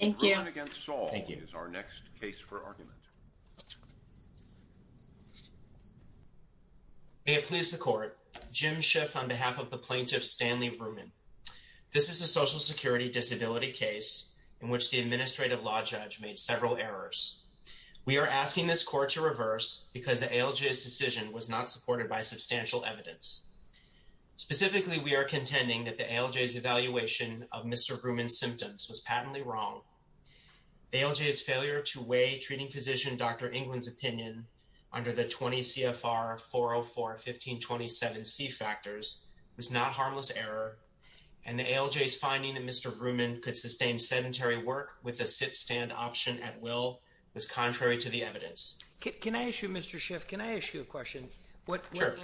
May it please the Court, Jim Schiff on behalf of the Plaintiff Stanley Vrooman. This is a Social Security disability case in which the Administrative Law Judge made several errors. We are asking this Court to reverse because the ALJ's decision was not supported by substantial evidence. Specifically, we are contending that the ALJ's evaluation of Mr. Vrooman's symptoms was patently wrong. The ALJ's failure to weigh treating physician Dr. England's opinion under the 20 CFR 404 1527 C factors was not harmless error, and the ALJ's finding that Mr. Vrooman could sustain sedentary work with a sit-stand option at will was contrary to the evidence. Can I ask you, Mr. Schiff, can I ask you a question? Sure.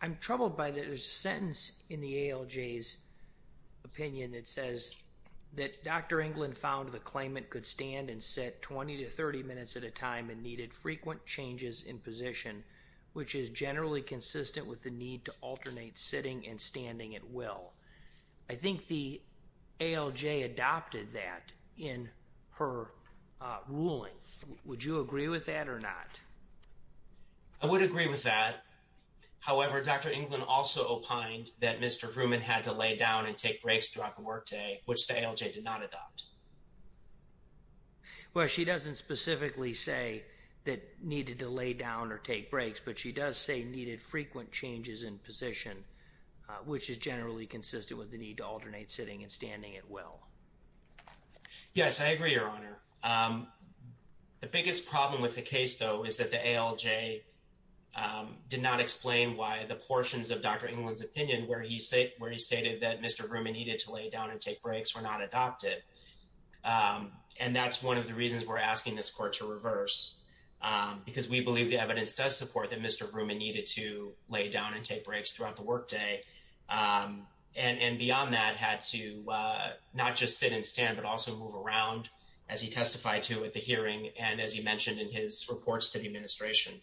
I'm troubled by the sentence in the ALJ's opinion that says that Dr. England found the claimant could stand and sit 20 to 30 minutes at a time and needed frequent changes in position, which is generally consistent with the need to alternate sitting and standing at will. I think the ALJ adopted that in her ruling. Would you agree with that or not? I would agree with that. However, Dr. England also opined that Mr. Vrooman had to lay down and take breaks throughout the workday, which the ALJ did not adopt. Well, she doesn't specifically say that needed to lay down or take breaks, but she does say needed frequent changes in position, which is generally consistent with the need to alternate Yes, I agree, Your Honor. The biggest problem with the case, though, is that the ALJ did not explain why the portions of Dr. England's opinion where he stated that Mr. Vrooman needed to lay down and take breaks were not adopted. And that's one of the reasons we're asking this court to reverse, because we believe the evidence does support that Mr. Vrooman needed to lay down and take breaks throughout the workday. And beyond that, had to not just sit and stand, but also move around, as he testified to at the hearing and as he mentioned in his reports to the administration.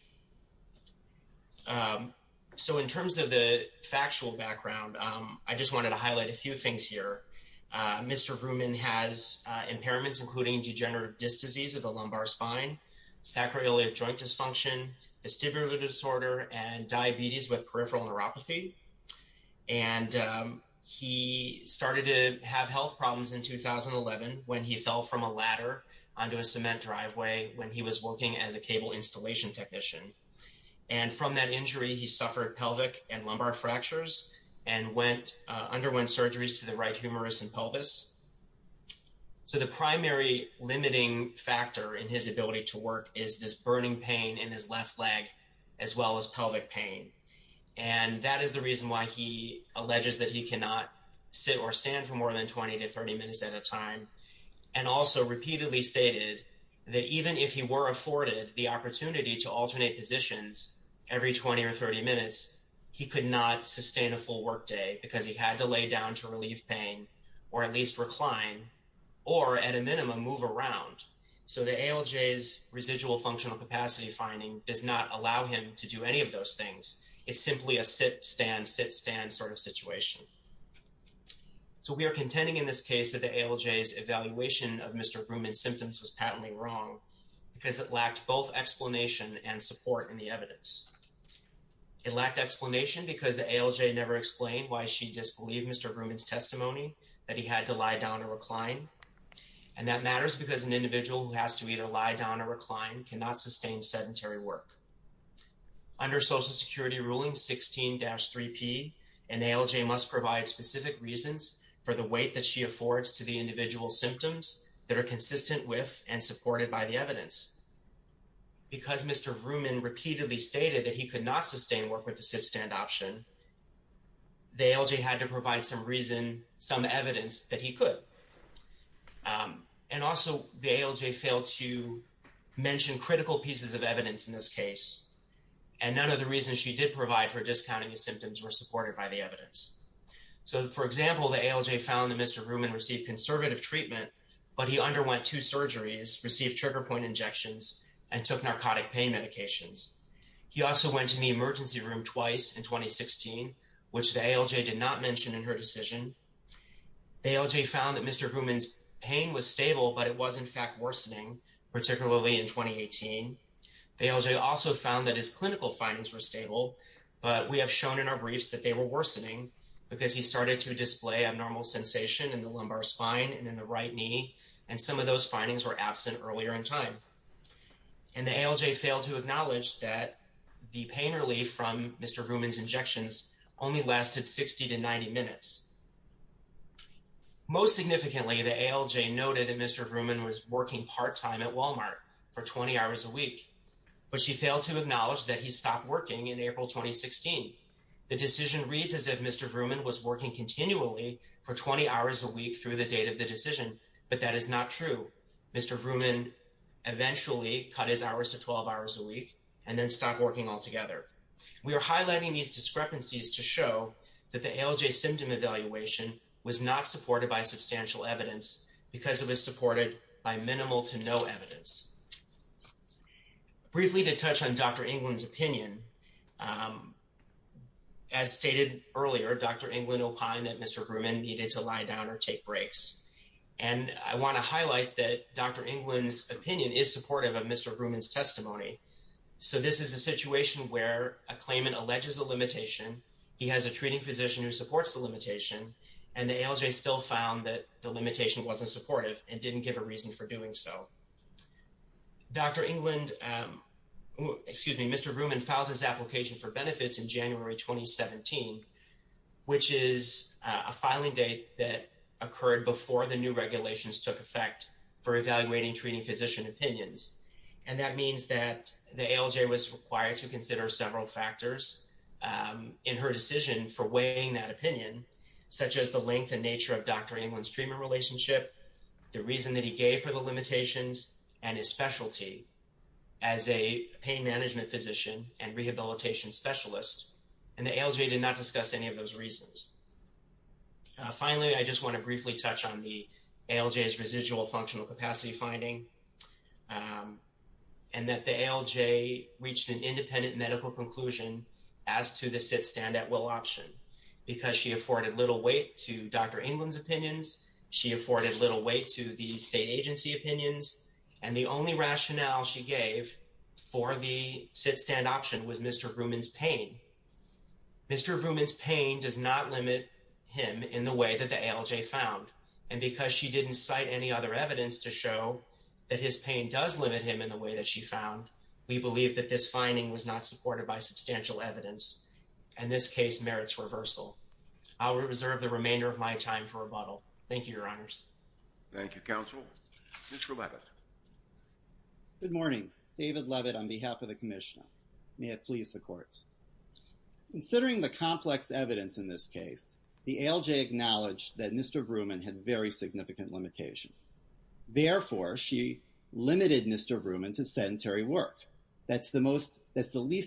So in terms of the factual background, I just wanted to highlight a few things here. Mr. Vrooman has impairments, including degenerative disc disease of the lumbar spine, sacroiliac joint dysfunction, vestibular disorder, and diabetes with peripheral neuropathy. And he started to have health problems in 2011 when he fell from a ladder onto a cement driveway when he was working as a cable installation technician. And from that injury, he suffered pelvic and lumbar fractures and underwent surgeries to the right humerus and pelvis. So the primary limiting factor in his ability to work is this burning pain in his left leg, as well as pelvic pain. And that is the reason why he alleges that he cannot sit or stand for more than 20 to 30 minutes at a time. And also repeatedly stated that even if he were afforded the opportunity to alternate positions every 20 or 30 minutes, he could not sustain a full workday because he had to lay down to relieve pain or at least recline or at a minimum move around. So the ALJ's residual functional capacity finding does not allow him to do any of those things. It's simply a sit, stand, sit, stand sort of situation. So we are contending in this case that the ALJ's evaluation of Mr. Vrooman's symptoms was patently wrong because it lacked both explanation and support in the evidence. It lacked explanation because the ALJ never explained why she disbelieved Mr. Vrooman's testimony that he had to lie down or recline. And that matters because an individual who has to either lie down or recline cannot sustain sedentary work. Under Social Security Ruling 16-3P, an ALJ must provide specific reasons for the weight that she affords to the individual's symptoms that are consistent with and supported by the evidence. Because Mr. Vrooman repeatedly stated that he could not sustain work with the sit, stand option, the ALJ had to provide some reason, some evidence that he could. And also, the ALJ failed to mention critical pieces of evidence in this case. And none of the reasons she did provide for discounting his symptoms were supported by the evidence. So for example, the ALJ found that Mr. Vrooman received conservative treatment, but he underwent two surgeries, received trigger point injections, and took narcotic pain medications. He also went to the emergency room twice in 2016, which the ALJ did not mention in her decision. The ALJ found that Mr. Vrooman's pain was stable, but it was in fact worsening, particularly in 2018. The ALJ also found that his clinical findings were stable, but we have shown in our briefs that they were worsening because he started to display abnormal sensation in the lumbar spine and in the right knee, and some of those findings were absent earlier in time. And the ALJ failed to acknowledge that the pain relief from Mr. Vrooman's injections only lasted 60 to 90 minutes. Most significantly, the ALJ noted that Mr. Vrooman was working part-time at Walmart for 20 hours a week, but she failed to acknowledge that he stopped working in April 2016. The decision reads as if Mr. Vrooman was working continually for 20 hours a week through the date of the decision, but that is not true. Mr. Vrooman eventually cut his hours to 12 hours a week and then stopped working altogether. We are highlighting these discrepancies to show that the ALJ symptom evaluation was not supported by substantial evidence because it was supported by minimal to no evidence. Briefly to touch on Dr. England's opinion, as stated earlier, Dr. England opined that Mr. Vrooman needed to lie down or take breaks. And I want to highlight that Dr. England's opinion is supportive of Mr. Vrooman's testimony. So this is a situation where a claimant alleges a limitation, he has a treating physician who supports the limitation, and the ALJ still found that the limitation wasn't supportive and didn't give a reason for doing so. Dr. England, excuse me, Mr. Vrooman filed his application for benefits in January 2017, which is a filing date that occurred before the new regulations took effect for evaluating treating physician opinions. And that means that the ALJ was required to consider several factors in her decision for weighing that opinion, such as the length and nature of Dr. England's treatment relationship, the reason that he gave for the limitations, and his specialty as a pain management physician and rehabilitation specialist. And the ALJ did not discuss any of those reasons. Finally, I just want to briefly touch on the ALJ's residual functional capacity finding, and that the ALJ reached an independent medical conclusion as to the sit-stand-at-will option, because she afforded little weight to Dr. England's opinions, she afforded little weight to the state agency opinions, and the only rationale she gave for the sit-stand option was Mr. Vrooman's pain. Mr. Vrooman's pain does not limit him in the way that the ALJ found. And because she didn't cite any other evidence to show that his pain does limit him in the way that she found, we believe that this finding was not supported by substantial evidence, and this case merits reversal. I'll reserve the remainder of my time for rebuttal. Thank you, Your Honors. Thank you, Counsel. Mr. Levitt. Good morning. David Levitt on behalf of the Commissioner. May it please the Court. Considering the complex evidence in this case, the ALJ acknowledged that Mr. Vrooman had very significant limitations. Therefore, she limited Mr. Vrooman to sedentary work. That's the least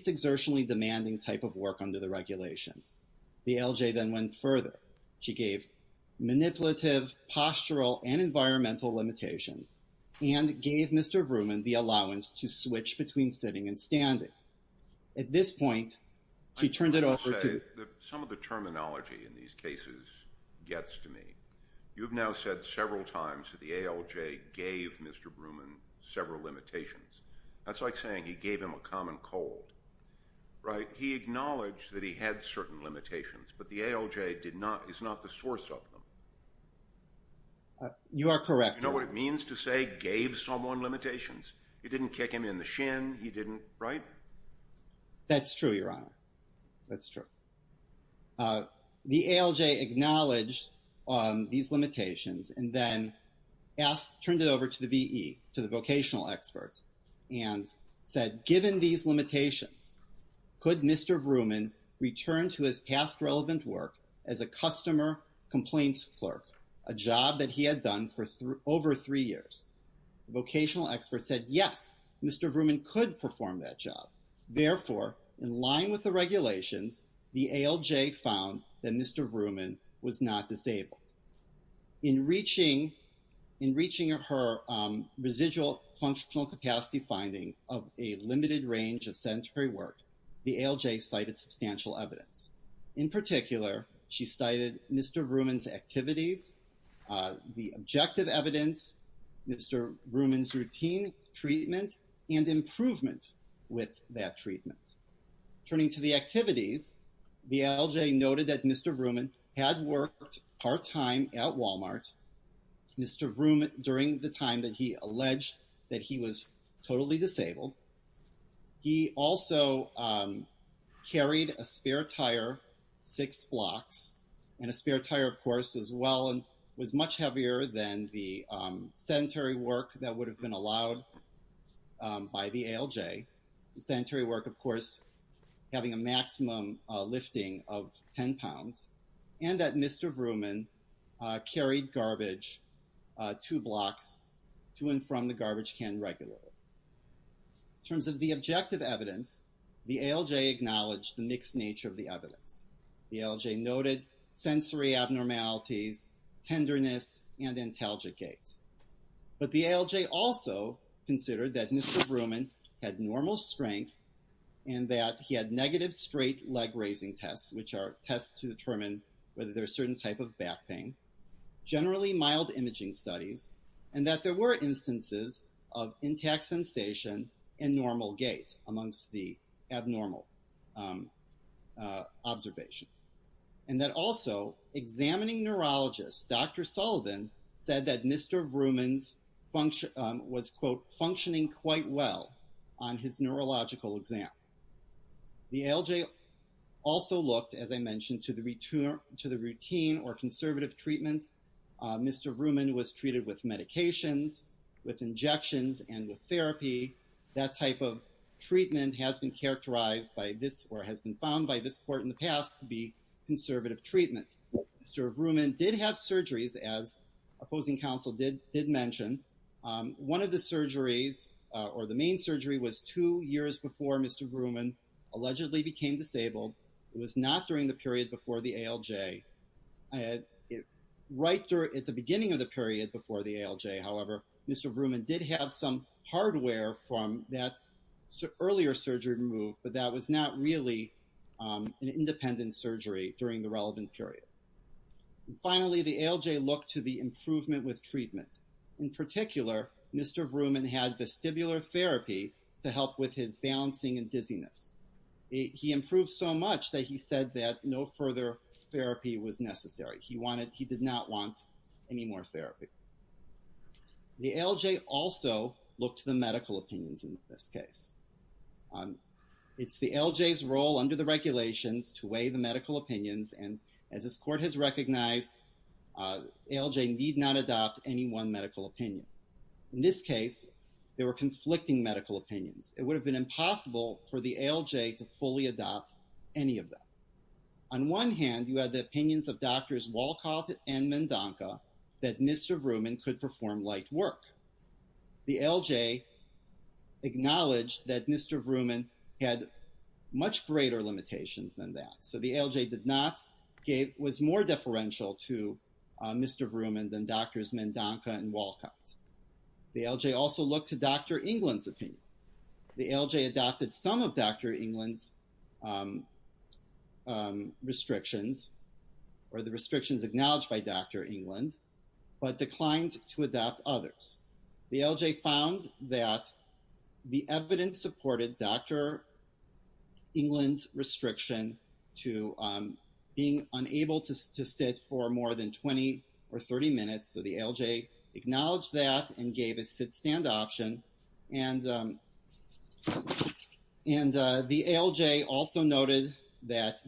exertionally demanding type of work under the regulations. The ALJ then went further. She gave manipulative, postural, and environmental limitations, and gave Mr. Vrooman the allowance to switch between sitting and standing. At this point, she turned it over to- Some of the terminology in these cases gets to me. You've now said several times that the ALJ gave Mr. Vrooman several limitations. That's like saying he gave him a common cold, right? He acknowledged that he had certain limitations, but the ALJ is not the source of them. You are correct. You know what it means to say gave someone limitations? It didn't kick him in the shin. He didn't, right? That's true, Your Honor. That's true. The ALJ acknowledged these limitations and then turned it over to the VE, to the vocational expert, and said, given these limitations, could Mr. Vrooman return to his past relevant work as a customer complaints clerk, a job that he had done for over three years? The vocational expert said, yes, Mr. Vrooman could perform that job. Therefore, in line with the regulations, the ALJ found that Mr. Vrooman was not disabled. In reaching her residual functional capacity finding of a limited range of sedentary work, the ALJ cited substantial evidence. In particular, she cited Mr. Vrooman's activities, the objective evidence, Mr. Vrooman's routine treatment, and improvement with that treatment. Turning to the activities, the ALJ noted that Mr. Vrooman had worked part-time at Walmart. Mr. Vrooman, during the time that he alleged that he was totally disabled, he also carried a spare tire six blocks, and a spare tire, of course, as well, was much heavier than the sedentary work that would have been allowed by the ALJ. The sedentary work, of course, having a maximum lifting of 10 pounds, and that Mr. Vrooman carried garbage two blocks to and from the garbage can regularly. In terms of the objective evidence, the ALJ acknowledged the mixed nature of the evidence. The ALJ noted sensory abnormalities, tenderness, and antalgic gait. But the ALJ also considered that Mr. Vrooman had normal strength, and that he had negative straight leg raising tests, which are tests to determine whether there's certain type of back pain, generally mild imaging studies, and that there were instances of intact sensation and normal gait amongst the abnormal observations. And that also, examining neurologists, Dr. Sullivan said that Mr. Vrooman was, quote, functioning quite well on his neurological exam. The ALJ also looked, as I mentioned, to the routine or conservative treatment. Mr. Vrooman was treated with medications, with injections, and with therapy. That type of treatment has been characterized by this, or has been found by this court in the past to be conservative treatment. Mr. Vrooman did have surgeries, as opposing counsel did mention. One of the surgeries, or the main surgery, was two years before Mr. Vrooman allegedly became disabled. It was not during the period before the ALJ. It was right at the beginning of the period before the ALJ. However, Mr. Vrooman did have some hardware from that earlier surgery removed, but that was not really an independent surgery during the relevant period. Finally, the ALJ looked to the improvement with treatment. In particular, Mr. Vrooman had vestibular therapy to help with his balancing and dizziness. He improved so much that he said that no further therapy was necessary. He wanted, he did not want any more therapy. The ALJ also looked to the medical opinions in this case. It's the ALJ's role under the regulations to weigh the medical opinions, and as this court has recognized, ALJ need not adopt any one medical opinion. In this case, there were conflicting medical opinions. It would have been impossible for the ALJ to fully adopt any of them. On one hand, you had the opinions of Drs. Wolcott and Mendonca that Mr. Vrooman could perform light work. The ALJ acknowledged that Mr. Vrooman had much greater limitations than that, so the ALJ did not, was more deferential to Mr. Vrooman than Drs. Mendonca and Wolcott. The ALJ also looked to Dr. England's opinion. The ALJ adopted some of Dr. England's restrictions, or the restrictions acknowledged by Dr. England, but declined to adopt others. The ALJ found that the evidence supported Dr. England's restriction to being unable to sit for more than 20 or 30 minutes, so the ALJ acknowledged that and gave a sit-stand option, and the ALJ also noted that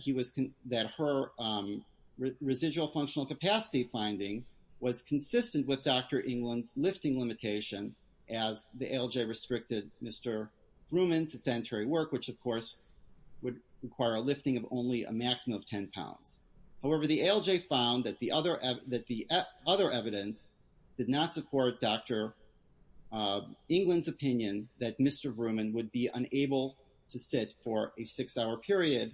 her residual functional capacity finding was consistent with Dr. England's lifting limitation as the ALJ restricted Mr. Vrooman to sedentary work, which of course would require a lifting of only a maximum of 10 pounds. However, the ALJ found that the other evidence did not support Dr. England's opinion that Mr. Vrooman would be unable to sit for a six-hour period,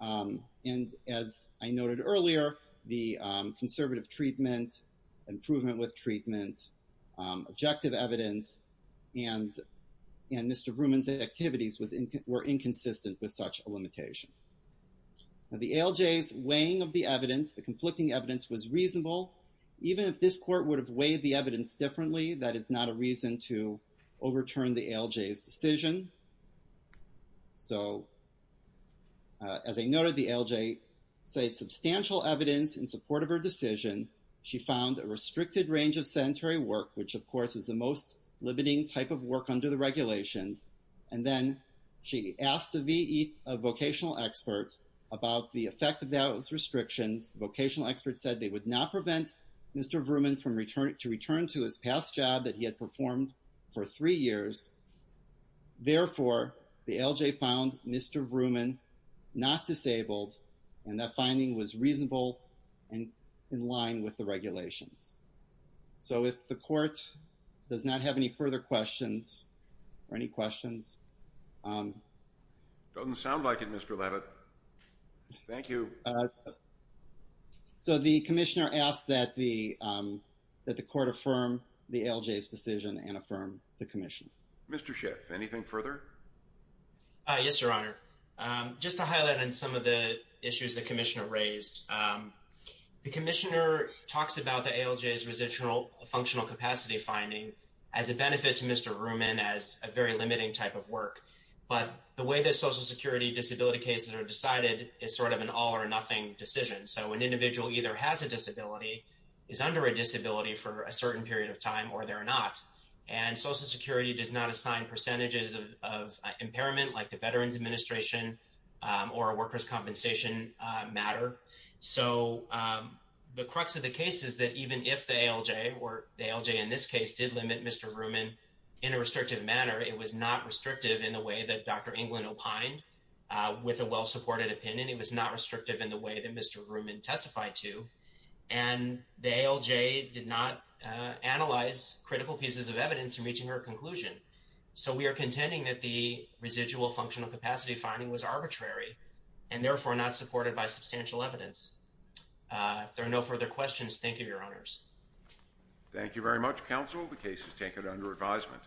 and as I noted earlier, the conservative treatment, improvement with treatment, objective evidence, and Mr. Vrooman's activities were inconsistent with such a limitation. Now the ALJ's weighing of the evidence, the conflicting evidence, was reasonable. Even if this court would have weighed the evidence differently, that is not a reason to overturn the ALJ's decision. So as I noted, the ALJ cited substantial evidence in support of her decision. She found a restricted range of sedentary work, which of course is the most limiting type of work under the regulations, and then she asked a vocational expert about the effect of those restrictions. Vocational experts said they would not prevent Mr. Vrooman from returning to his past job that he had performed for three years. Therefore, the ALJ found Mr. Vrooman not disabled and that finding was reasonable and in line with the regulations. So if the court does not have any further questions or any questions... It doesn't sound like it, Mr. Labott. Thank you. So the commissioner asked that the court affirm the ALJ's decision and affirm the commission. Mr. Schiff, anything further? Yes, Your Honor. Just to highlight on some of the issues the commissioner raised. The commissioner talks about the ALJ's functional capacity finding as a benefit to Mr. Vrooman as a very limiting type of work. But the way that Social Security disability cases are decided is sort of an all or nothing decision. So an individual either has a disability, is under a disability for a certain period of time, or they're not. And Social Security does not assign percentages of impairment like the Veterans Administration or a workers' compensation matter. So the crux of the case is that even if the ALJ, or the ALJ in this case, did limit Mr. Vrooman in a restrictive manner, it was not restrictive in the way that Dr. England opined with a well-supported opinion. It was not restrictive in the way that Mr. Vrooman testified to. And the ALJ did not analyze critical pieces of evidence in reaching her conclusion. So we are contending that the residual functional capacity finding was arbitrary and therefore not supported by substantial evidence. If there are no further questions, thank you, Your Honors. Thank you very much, counsel. The case is taken under advisement.